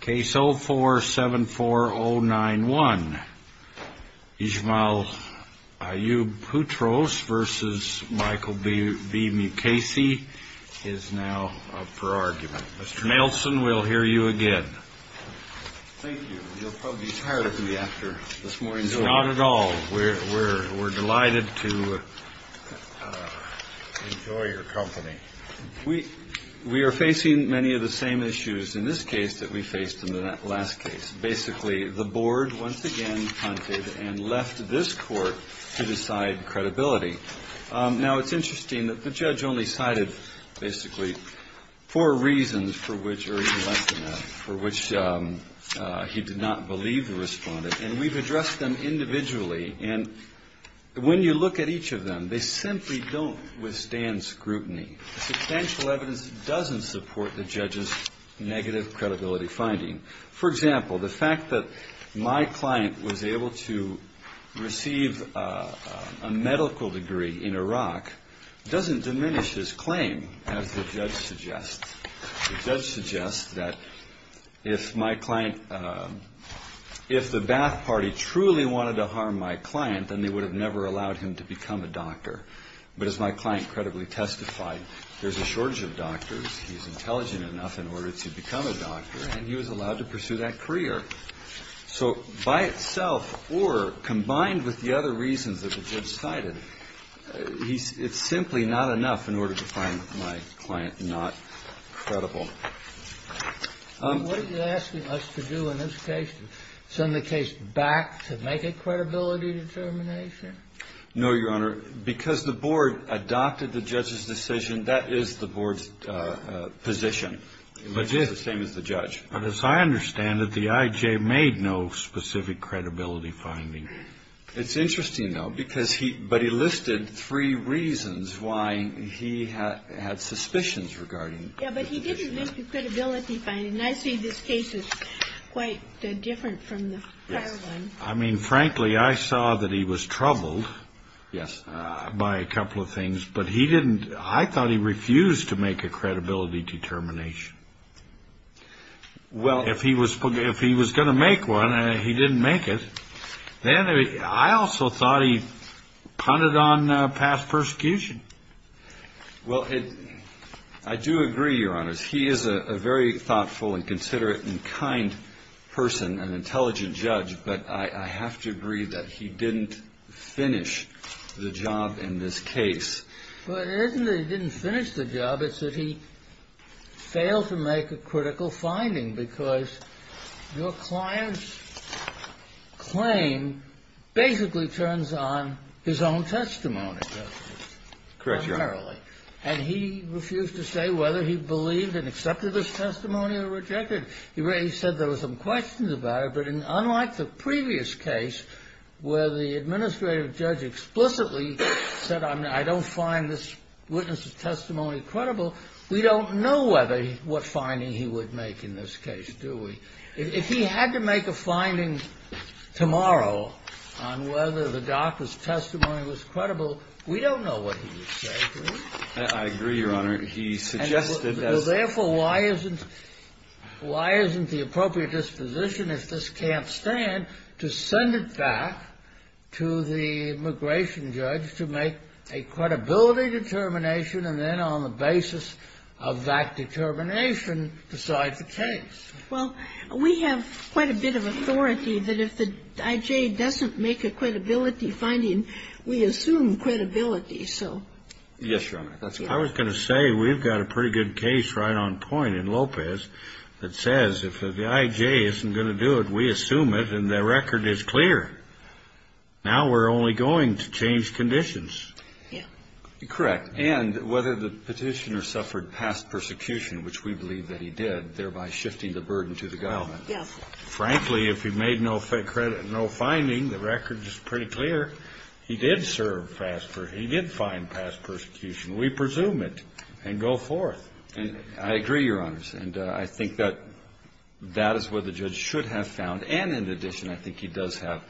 Case 04-74091. Ismail Ayoub Putros v. Michael B. Mukasey is now up for argument. Mr. Nelson, we'll hear you again. Thank you. You'll probably be tired of me after this morning's over. Not at all. We're delighted to enjoy your company. We are facing many of the same issues in this case that we faced in the last case. Basically, the board once again punted and left this court to decide credibility. Now, it's interesting that the judge only cited basically four reasons for which, or even less than that, for which he did not believe the respondent. And we've addressed them individually. And when you look at each of them, they simply don't withstand scrutiny. Substantial evidence doesn't support the judge's negative credibility finding. For example, the fact that my client was able to receive a medical degree in Iraq doesn't diminish his claim, as the judge suggests. The judge suggests that if my client, if the Ba'ath Party truly wanted to harm my client, then they would have never allowed him to become a doctor. But as my client credibly testified, there's a shortage of doctors. He's intelligent enough in order to become a doctor, and he was allowed to pursue that career. So by itself, or combined with the other reasons that the judge cited, it's simply not enough in order to find my client not credible. What are you asking us to do in this case, to send the case back to make a credibility determination? No, Your Honor. Because the board adopted the judge's decision, that is the board's position. It's the same as the judge. But as I understand it, the I.J. made no specific credibility finding. It's interesting, though, because he, but he listed three reasons why he had suspicions regarding it. Yeah, but he didn't make a credibility finding, and I see this case is quite different from the prior one. I mean, frankly, I saw that he was troubled by a couple of things, but he didn't, I thought he refused to make a credibility determination. Well, if he was going to make one, he didn't make it. Then I also thought he punted on past persecution. Well, I do agree, Your Honor. He is a very thoughtful and considerate and kind person, an intelligent judge, but I have to agree that he didn't finish the job in this case. Well, it isn't that he didn't finish the job. It's that he failed to make a critical finding, because your client's claim basically turns on his own testimony, doesn't it? Correct, Your Honor. Primarily. And he refused to say whether he believed and accepted his testimony or rejected it. He said there were some questions about it, but unlike the previous case where the administrative judge explicitly said, I don't find this witness's testimony credible, we don't know what finding he would make in this case, do we? If he had to make a finding tomorrow on whether the doctor's testimony was credible, we don't know what he would say, do we? I agree, Your Honor. He suggested as to why isn't the appropriate disposition if this can't stand to send it back to the immigration judge to make a credibility determination and then on the basis of that determination decide the case. Well, we have quite a bit of authority that if the I.J. doesn't make a credibility finding, we assume credibility, so. Yes, Your Honor. I was going to say we've got a pretty good case right on point in Lopez that says if the I.J. isn't going to do it, we assume it, and the record is clear. Now we're only going to change conditions. Yeah. Correct. And whether the Petitioner suffered past persecution, which we believe that he did, thereby shifting the burden to the government. Yes. Frankly, if he made no finding, the record is pretty clear. He did serve past persecution. He did find past persecution. We presume it and go forth. I agree, Your Honor. And I think that that is where the judge should have found, and in addition I think he does have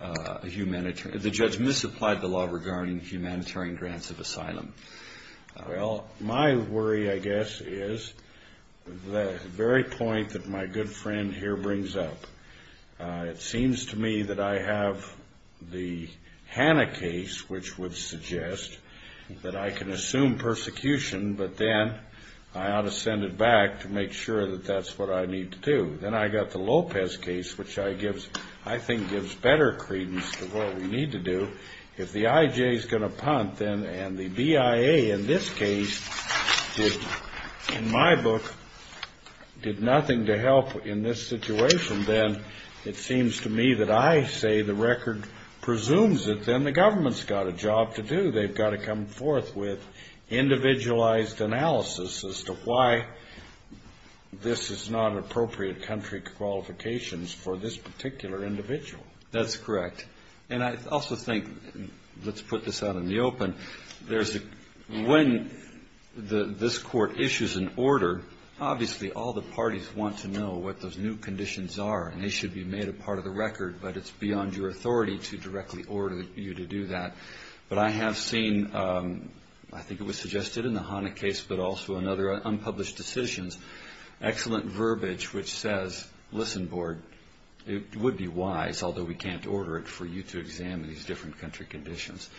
a humanitarian. The judge misapplied the law regarding humanitarian grants of asylum. Well, my worry, I guess, is the very point that my good friend here brings up. It seems to me that I have the Hanna case, which would suggest that I can assume persecution, but then I ought to send it back to make sure that that's what I need to do. Then I've got the Lopez case, which I think gives better credence to what we need to do. If the I.J. is going to punt and the BIA in this case, in my book, did nothing to help in this situation, then it seems to me that I say the record presumes it, then the government's got a job to do. They've got to come forth with individualized analysis as to why this is not an appropriate country qualifications for this particular individual. That's correct. And I also think, let's put this out in the open, when this Court issues an order, obviously all the parties want to know what those new conditions are, and they should be made a part of the record, but it's beyond your authority to directly order you to do that. But I have seen, I think it was suggested in the Hanna case, but also in other unpublished decisions, excellent verbiage which says, listen, board, it would be wise, although we can't order it, for you to examine these different country conditions.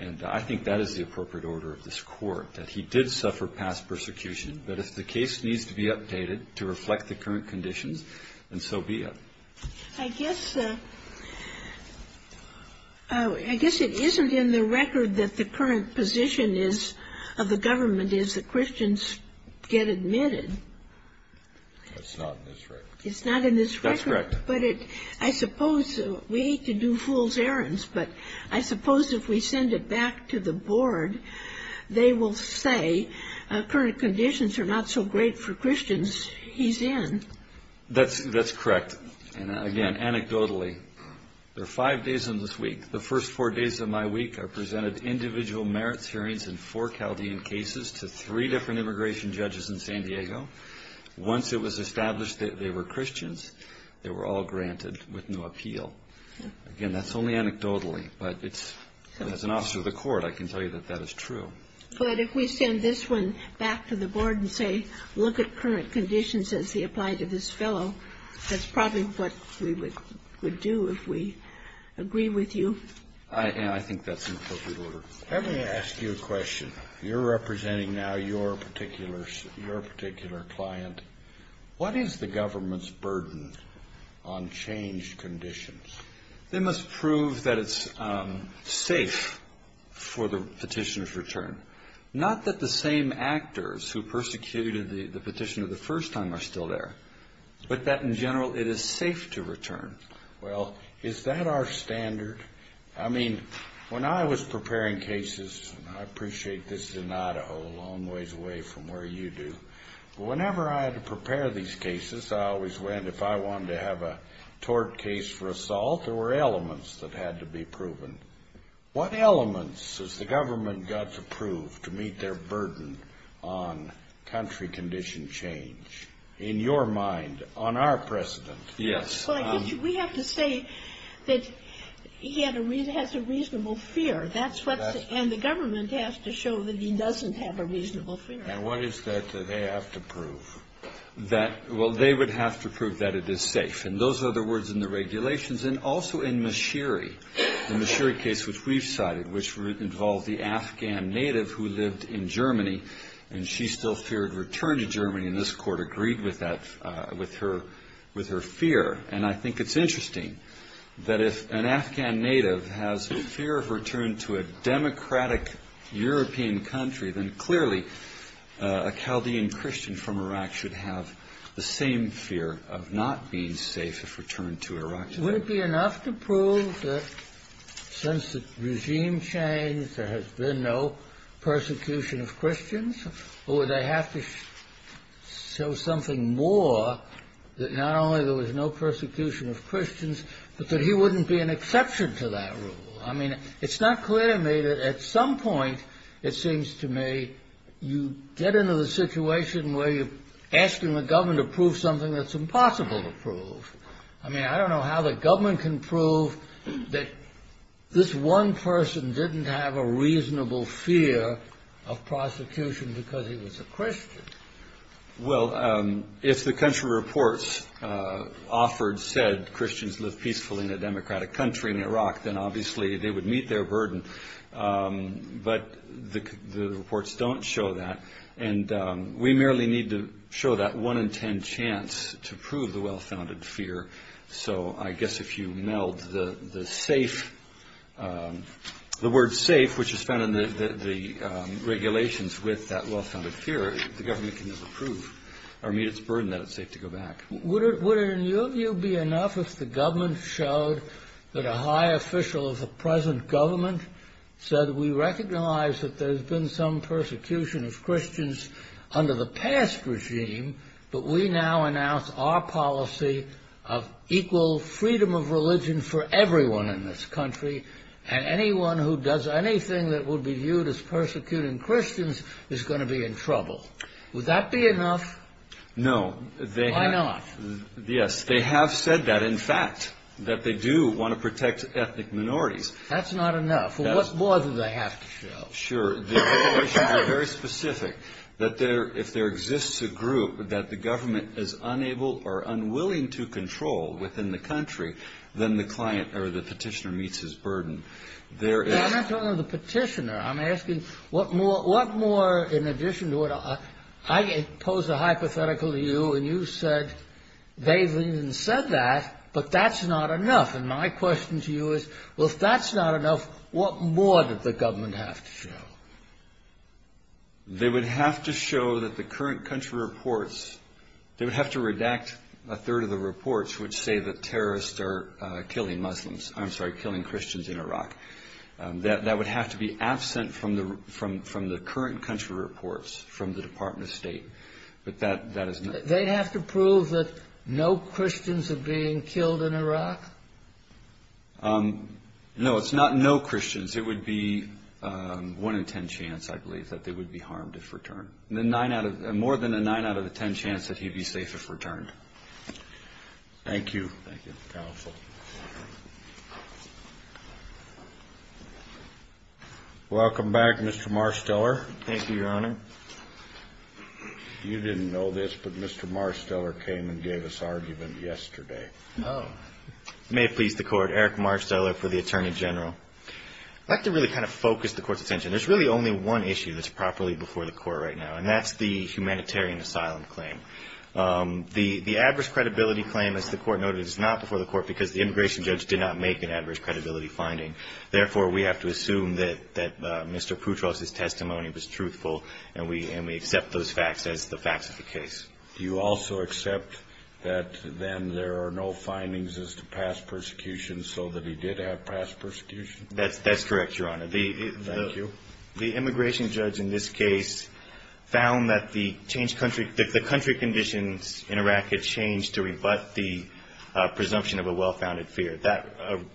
And I think that is the appropriate order of this Court, that he did suffer past persecution, but if the case needs to be updated to reflect the current conditions, then so be it. I guess it isn't in the record that the current position of the government is that Christians get admitted. That's not in this record. It's not in this record. That's correct. But I suppose, we hate to do fool's errands, but I suppose if we send it back to the board, they will say current conditions are not so great for Christians he's in. That's correct. And again, anecdotally, there are five days in this week. The first four days of my week are presented individual merits hearings in four Chaldean cases to three different immigration judges in San Diego. Once it was established that they were Christians, they were all granted with no appeal. Again, that's only anecdotally, but as an officer of the court, I can tell you that that is true. But if we send this one back to the board and say look at current conditions as they apply to this fellow, that's probably what we would do if we agree with you. I think that's an appropriate order. Let me ask you a question. You're representing now your particular client. What is the government's burden on changed conditions? They must prove that it's safe for the petitioner's return. Not that the same actors who persecuted the petitioner the first time are still there, but that in general it is safe to return. Well, is that our standard? I mean, when I was preparing cases, and I appreciate this is in Idaho, a long ways away from where you do, whenever I had to prepare these cases, I always went, if I wanted to have a tort case for assault, there were elements that had to be proven. What elements has the government got to prove to meet their burden on country condition change? In your mind, on our precedent. Yes. Well, I guess we have to say that he has a reasonable fear. And the government has to show that he doesn't have a reasonable fear. And what is that they have to prove? Well, they would have to prove that it is safe. And those are the words in the regulations. And also in Mashiri, the Mashiri case which we've cited, which involved the Afghan native who lived in Germany, and she still feared return to Germany, and this Court agreed with her fear. And I think it's interesting that if an Afghan native has a fear of return to a democratic European country, then clearly a Chaldean Christian from Iraq should have the same fear of not being safe if returned to Iraq. Would it be enough to prove that since the regime changed, there has been no persecution of Christians? Or would they have to show something more that not only there was no persecution of Christians, but that he wouldn't be an exception to that rule? I mean, it's not clear to me that at some point, it seems to me, you get into the situation where you're asking the government to prove something that's impossible to prove. I mean, I don't know how the government can prove that this one person didn't have a reasonable fear of prosecution because he was a Christian. Well, if the country reports offered, said Christians lived peacefully in a democratic country in Iraq, then obviously they would meet their burden. But the reports don't show that. And we merely need to show that one in ten chance to prove the well-founded fear. So I guess if you meld the word safe, which is found in the regulations with that well-founded fear, the government can never prove or meet its burden that it's safe to go back. Would it, in your view, be enough if the government showed that a high official of the present government said, we recognize that there's been some persecution of Christians under the past regime, but we now announce our policy of equal freedom of religion for everyone in this country, and anyone who does anything that would be viewed as persecuting Christians is going to be in trouble. Would that be enough? No. Why not? Yes, they have said that, in fact, that they do want to protect ethnic minorities. That's not enough. Well, what more do they have to show? Sure. The regulations are very specific, that if there exists a group that the government is unable or unwilling to control within the country, then the petitioner meets his burden. I'm not talking of the petitioner. I'm asking what more, in addition to what I posed a hypothetical to you, and you said they've even said that, but that's not enough. And my question to you is, well, if that's not enough, what more does the government have to show? They would have to show that the current country reports, they would have to redact a third of the reports which say that terrorists are killing Muslims. I'm sorry, killing Christians in Iraq. That would have to be absent from the current country reports from the Department of State. They'd have to prove that no Christians are being killed in Iraq? No, it's not no Christians. It would be one in ten chance, I believe, that they would be harmed if returned. More than a nine out of a ten chance that he'd be safe if returned. Thank you, counsel. Welcome back, Mr. Marsteller. Thank you, Your Honor. You didn't know this, but Mr. Marsteller came and gave us argument yesterday. Oh. May it please the Court, Eric Marsteller for the Attorney General. I'd like to really kind of focus the Court's attention. There's really only one issue that's properly before the Court right now, and that's the humanitarian asylum claim. The adverse credibility claim, as the Court noted, is not before the Court because the immigration judge did not make an adverse credibility finding. Therefore, we have to assume that Mr. Putraus' testimony was truthful, and we accept those facts as the facts of the case. Do you also accept that then there are no findings as to past persecution, so that he did have past persecution? That's correct, Your Honor. Thank you. The immigration judge in this case found that the country conditions in Iraq had changed to rebut the presumption of a well-founded fear. That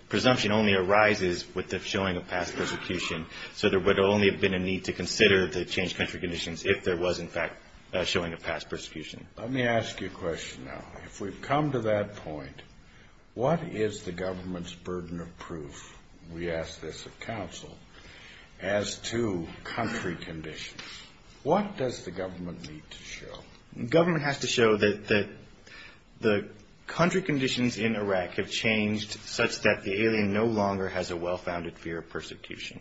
presumption only arises with the showing of past persecution, so there would only have been a need to consider the changed country conditions if there was, in fact, a showing of past persecution. Let me ask you a question now. If we've come to that point, what is the government's burden of proof? We ask this of counsel as to country conditions. What does the government need to show? The government has to show that the country conditions in Iraq have changed such that the alien no longer has a well-founded fear of persecution.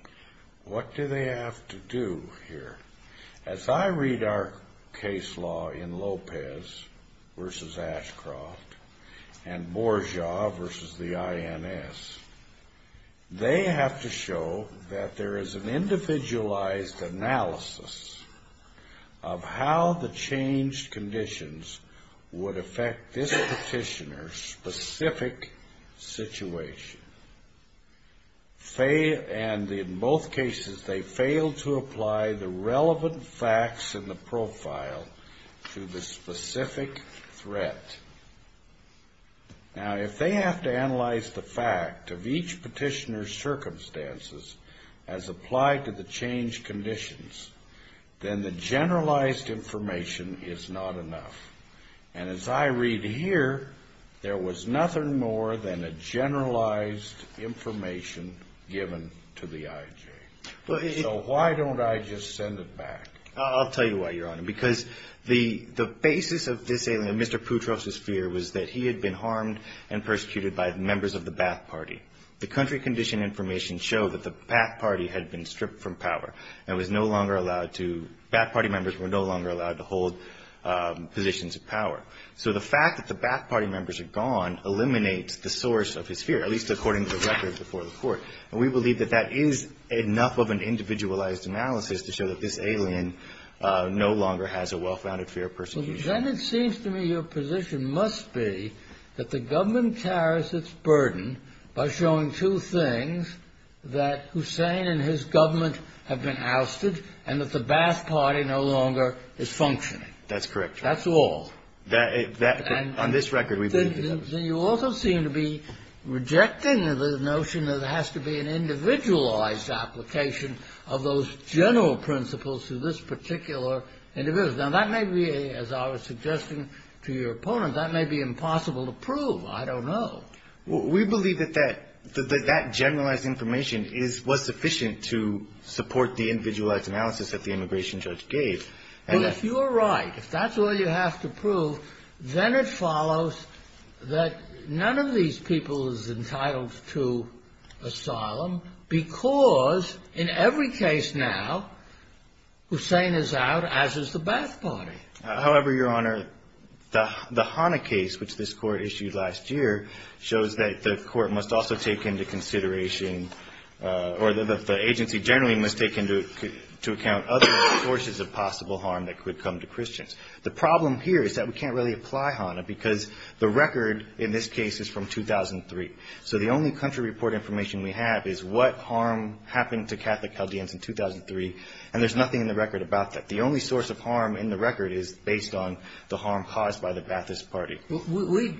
What do they have to do here? As I read our case law in Lopez v. Ashcroft and Bourgeois v. the INS, they have to show that there is an individualized analysis of how the changed conditions would affect this petitioner's specific situation. And in both cases, they fail to apply the relevant facts in the profile to the specific threat. Now, if they have to analyze the fact of each petitioner's circumstances as applied to the changed conditions, then the generalized information is not enough. And as I read here, there was nothing more than a generalized information given to the IJ. So why don't I just send it back? I'll tell you why, Your Honor, because the basis of this alien, Mr. Putroff's fear, was that he had been harmed and persecuted by members of the Ba'ath Party. The country condition information showed that the Ba'ath Party had been stripped from power and was no longer allowed to, Ba'ath Party members were no longer allowed to hold positions of power. So the fact that the Ba'ath Party members are gone eliminates the source of his fear, at least according to the records before the Court. And we believe that that is enough of an individualized analysis to show that this alien no longer has a well-founded fear of persecution. Then it seems to me your position must be that the government carries its burden by showing two things, that Hussein and his government have been ousted and that the Ba'ath Party no longer is functioning. That's correct, Your Honor. That's all. On this record, we believe that. Then you also seem to be rejecting the notion that it has to be an individualized application of those general principles to this particular individual. Now, that may be, as I was suggesting to your opponent, that may be impossible to prove. I don't know. We believe that that generalized information was sufficient to support the individualized analysis that the immigration judge gave. Well, if you are right, if that's all you have to prove, then it follows that none of these people is entitled to asylum because in every case now Hussein is out, as is the Ba'ath Party. However, Your Honor, the HANA case, which this Court issued last year, shows that the Court must also take into consideration or that the agency generally must take into account other sources of possible harm that could come to Christians. The problem here is that we can't really apply HANA because the record in this case is from 2003. So the only country report information we have is what harm happened to Catholic Chaldeans in 2003, and there's nothing in the record about that. The only source of harm in the record is based on the harm caused by the Ba'athist Party.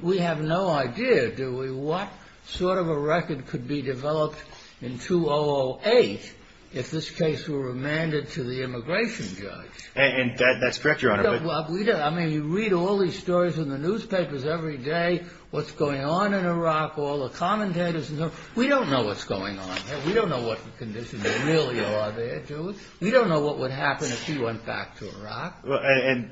We have no idea, do we, what sort of a record could be developed in 2008 if this case were remanded to the immigration judge. And that's correct, Your Honor. I mean, you read all these stories in the newspapers every day, what's going on in Iraq, all the commentators. We don't know what's going on. We don't know what the conditions really are there, do we? We don't know what would happen if he went back to Iraq. And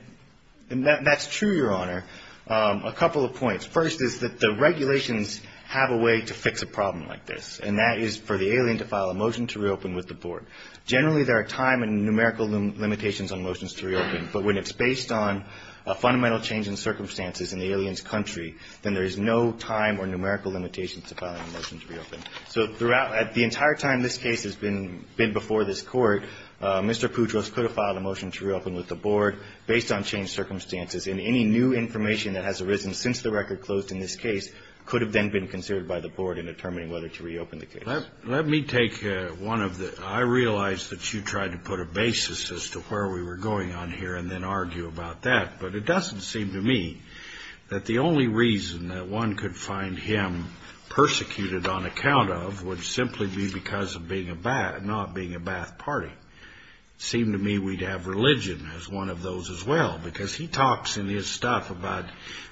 that's true, Your Honor. A couple of points. First is that the regulations have a way to fix a problem like this, and that is for the alien to file a motion to reopen with the Board. Generally, there are time and numerical limitations on motions to reopen, but when it's based on a fundamental change in circumstances in the alien's country, then there is no time or numerical limitations to filing a motion to reopen. So throughout the entire time this case has been before this Court, Mr. Poudros could have filed a motion to reopen with the Board based on changed circumstances, and any new information that has arisen since the record closed in this case could have then been considered by the Board in determining whether to reopen the case. Let me take one of the – I realize that you tried to put a basis as to where we were going on here and then argue about that, but it doesn't seem to me that the only reason that one could find him persecuted on account of would simply be because of being a – not being a Ba'ath party. It seemed to me we'd have religion as one of those as well, because he talks in his stuff about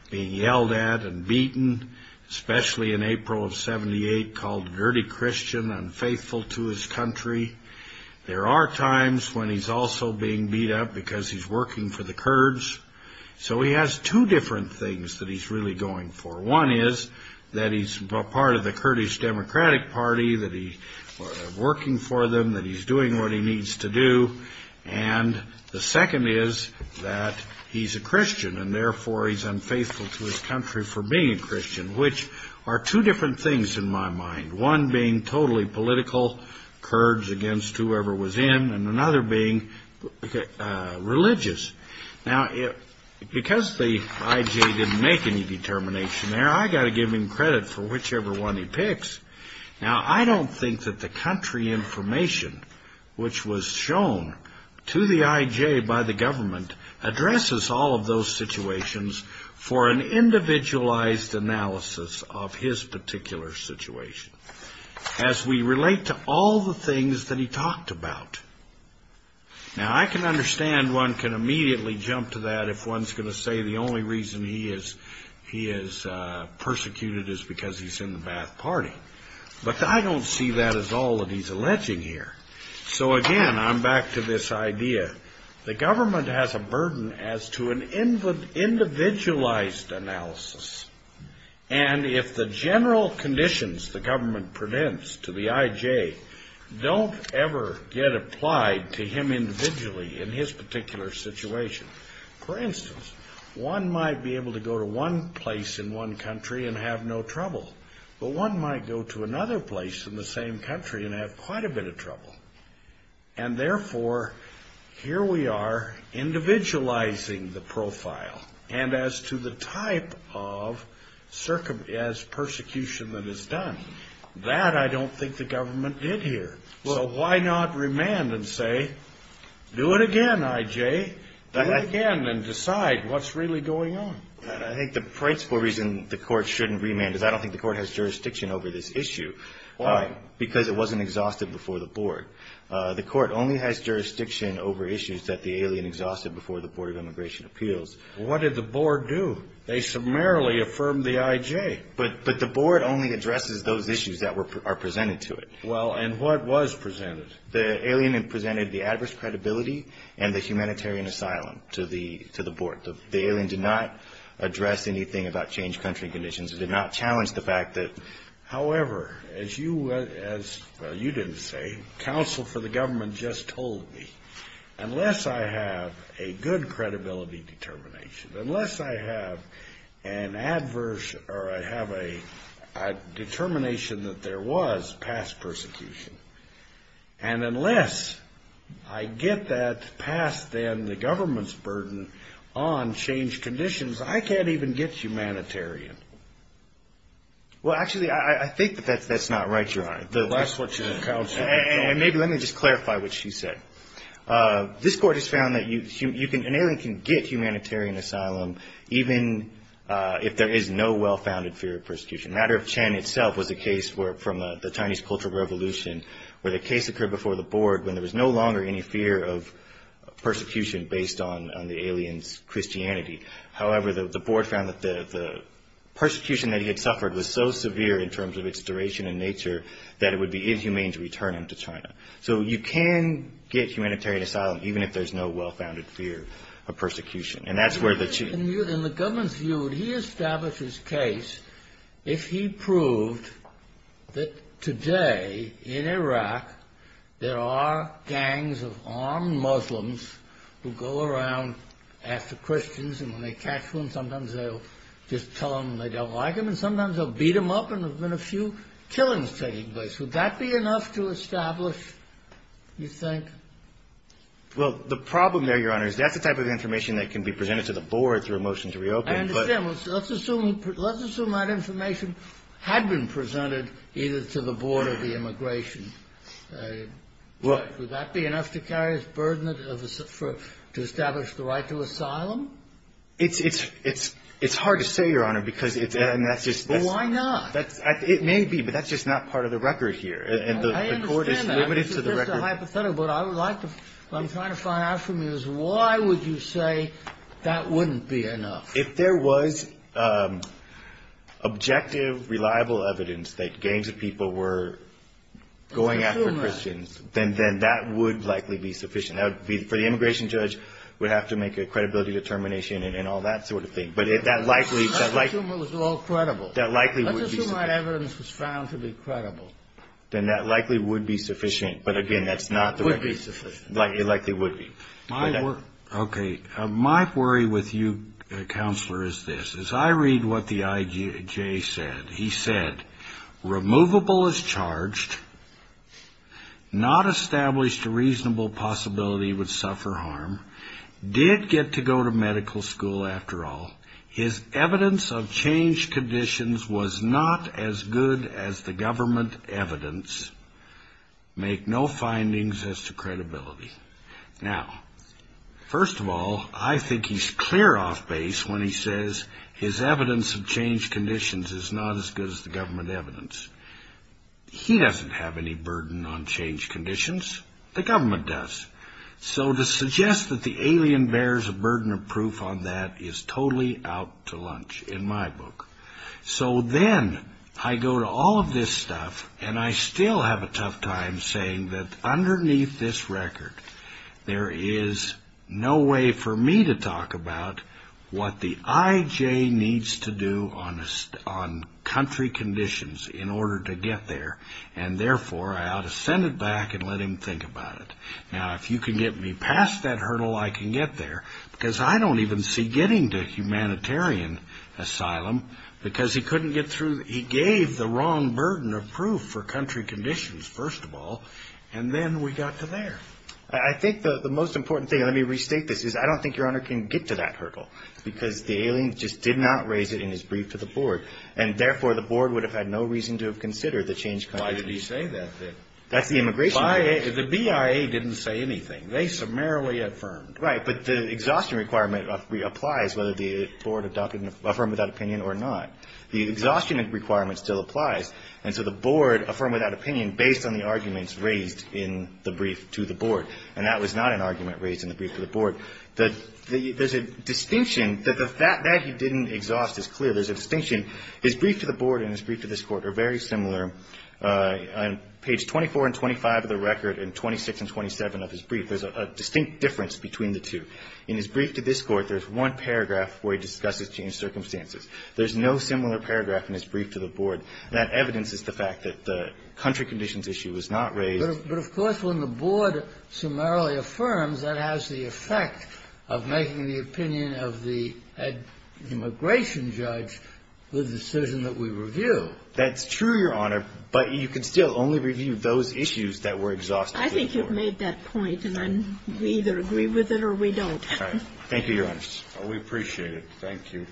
being yelled at and beaten, especially in April of 78, called a dirty Christian, unfaithful to his country. There are times when he's also being beat up because he's working for the Kurds. So he has two different things that he's really going for. One is that he's part of the Kurdish Democratic Party, that he's working for them, that he's doing what he needs to do. And the second is that he's a Christian, and therefore he's unfaithful to his country for being a Christian, which are two different things in my mind, one being totally political Kurds against whoever was in, and another being religious. Now, because the IJ didn't make any determination there, I've got to give him credit for whichever one he picks. Now, I don't think that the country information, which was shown to the IJ by the government, addresses all of those situations for an individualized analysis of his particular situation, as we relate to all the things that he talked about. Now, I can understand one can immediately jump to that if one's going to say the only reason he is persecuted is because he's in the Ba'ath Party. But I don't see that as all that he's alleging here. So again, I'm back to this idea. The government has a burden as to an individualized analysis, and if the general conditions the government presents to the IJ don't ever get applied to him individually in his particular situation. For instance, one might be able to go to one place in one country and have no trouble, but one might go to another place in the same country and have quite a bit of trouble. And therefore, here we are individualizing the profile, and as to the type of persecution that is done. That I don't think the government did here. So why not remand and say, do it again, IJ? Do it again and decide what's really going on. I think the principle reason the court shouldn't remand is I don't think the court has jurisdiction over this issue. Why? Because it wasn't exhausted before the board. The court only has jurisdiction over issues that the alien exhausted before the Board of Immigration Appeals. What did the board do? They summarily affirmed the IJ. Okay, but the board only addresses those issues that are presented to it. Well, and what was presented? The alien presented the adverse credibility and the humanitarian asylum to the board. The alien did not address anything about changed country conditions. It did not challenge the fact that, however, as you didn't say, counsel for the government just told me, unless I have a good credibility determination, unless I have an adverse or I have a determination that there was past persecution, and unless I get that past, then, the government's burden on changed conditions, I can't even get humanitarian. Well, actually, I think that that's not right, Your Honor. That's what your counsel said. Maybe let me just clarify what she said. This court has found that an alien can get humanitarian asylum even if there is no well-founded fear of persecution. The matter of Chen itself was a case from the Chinese Cultural Revolution where the case occurred before the board when there was no longer any fear of persecution based on the alien's Christianity. However, the board found that the persecution that he had suffered was so severe in terms of its duration and nature that it would be inhumane to return him to China. So you can get humanitarian asylum even if there's no well-founded fear of persecution, and that's where the... In the government's view, would he establish his case if he proved that today in Iraq there are gangs of armed Muslims who go around, ask the Christians, and when they catch them, sometimes they'll just tell them they don't like them, and sometimes they'll beat them up, and there have been a few killings taking place. Would that be enough to establish, you think? Well, the problem there, Your Honor, is that's the type of information that can be presented to the board through a motion to reopen, but... I understand. Let's assume that information had been presented either to the board or the immigration. Would that be enough to carry as burden to establish the right to asylum? It's hard to say, Your Honor, because it's... Well, why not? It may be, but that's just not part of the record here, and the court is limited to the record. I understand that. It's just a hypothetical, but I would like to... What I'm trying to find out from you is why would you say that wouldn't be enough? If there was objective, reliable evidence that gangs of people were going after Christians... Let's assume that. ...then that would likely be sufficient. For the immigration judge, we'd have to make a credibility determination and all that sort of thing, but that likely... Let's assume it was all credible. That likely would be sufficient. Let's assume that evidence was found to be credible. Then that likely would be sufficient, but, again, that's not the record. It would be sufficient. It likely would be. Okay. My worry with you, Counselor, is this. As I read what the IJ said, he said, Removable as charged, not established a reasonable possibility he would suffer harm, did get to go to medical school, after all. His evidence of changed conditions was not as good as the government evidence. Make no findings as to credibility. Now, first of all, I think he's clear off base when he says his evidence of changed conditions is not as good as the government evidence. He doesn't have any burden on changed conditions. The government does. So to suggest that the alien bears a burden of proof on that is totally out to lunch in my book. So then I go to all of this stuff, and I still have a tough time saying that underneath this record, there is no way for me to talk about what the IJ needs to do on country conditions in order to get there. And, therefore, I ought to send it back and let him think about it. Now, if you can get me past that hurdle, I can get there. Because I don't even see getting to humanitarian asylum. Because he couldn't get through. He gave the wrong burden of proof for country conditions, first of all. And then we got to there. I think the most important thing, and let me restate this, is I don't think Your Honor can get to that hurdle. Because the alien just did not raise it in his brief to the board. And, therefore, the board would have had no reason to have considered the changed conditions. Why did he say that? That's the immigration board. The BIA didn't say anything. They summarily affirmed. Right. But the exhaustion requirement applies whether the board adopted and affirmed that opinion or not. The exhaustion requirement still applies. And so the board affirmed that opinion based on the arguments raised in the brief to the board. And that was not an argument raised in the brief to the board. There's a distinction. That he didn't exhaust is clear. There's a distinction. His brief to the board and his brief to this Court are very similar. On page 24 and 25 of the record and 26 and 27 of his brief, there's a distinct difference between the two. In his brief to this Court, there's one paragraph where he discusses changed circumstances. There's no similar paragraph in his brief to the board. That evidence is the fact that the country conditions issue was not raised. But, of course, when the board summarily affirms, that has the effect of making the opinion of the immigration judge the decision that we review. That's true, Your Honor. But you can still only review those issues that were exhausted before. I think you've made that point. And we either agree with it or we don't. All right. Thank you, Your Honor. We appreciate it. Thank you.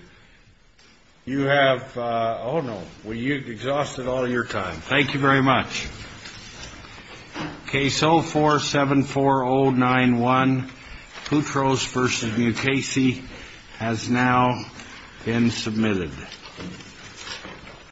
You have, oh, no. You've exhausted all your time. Thank you very much. Case 04-74091, Putros v. Mukasey, has now been submitted.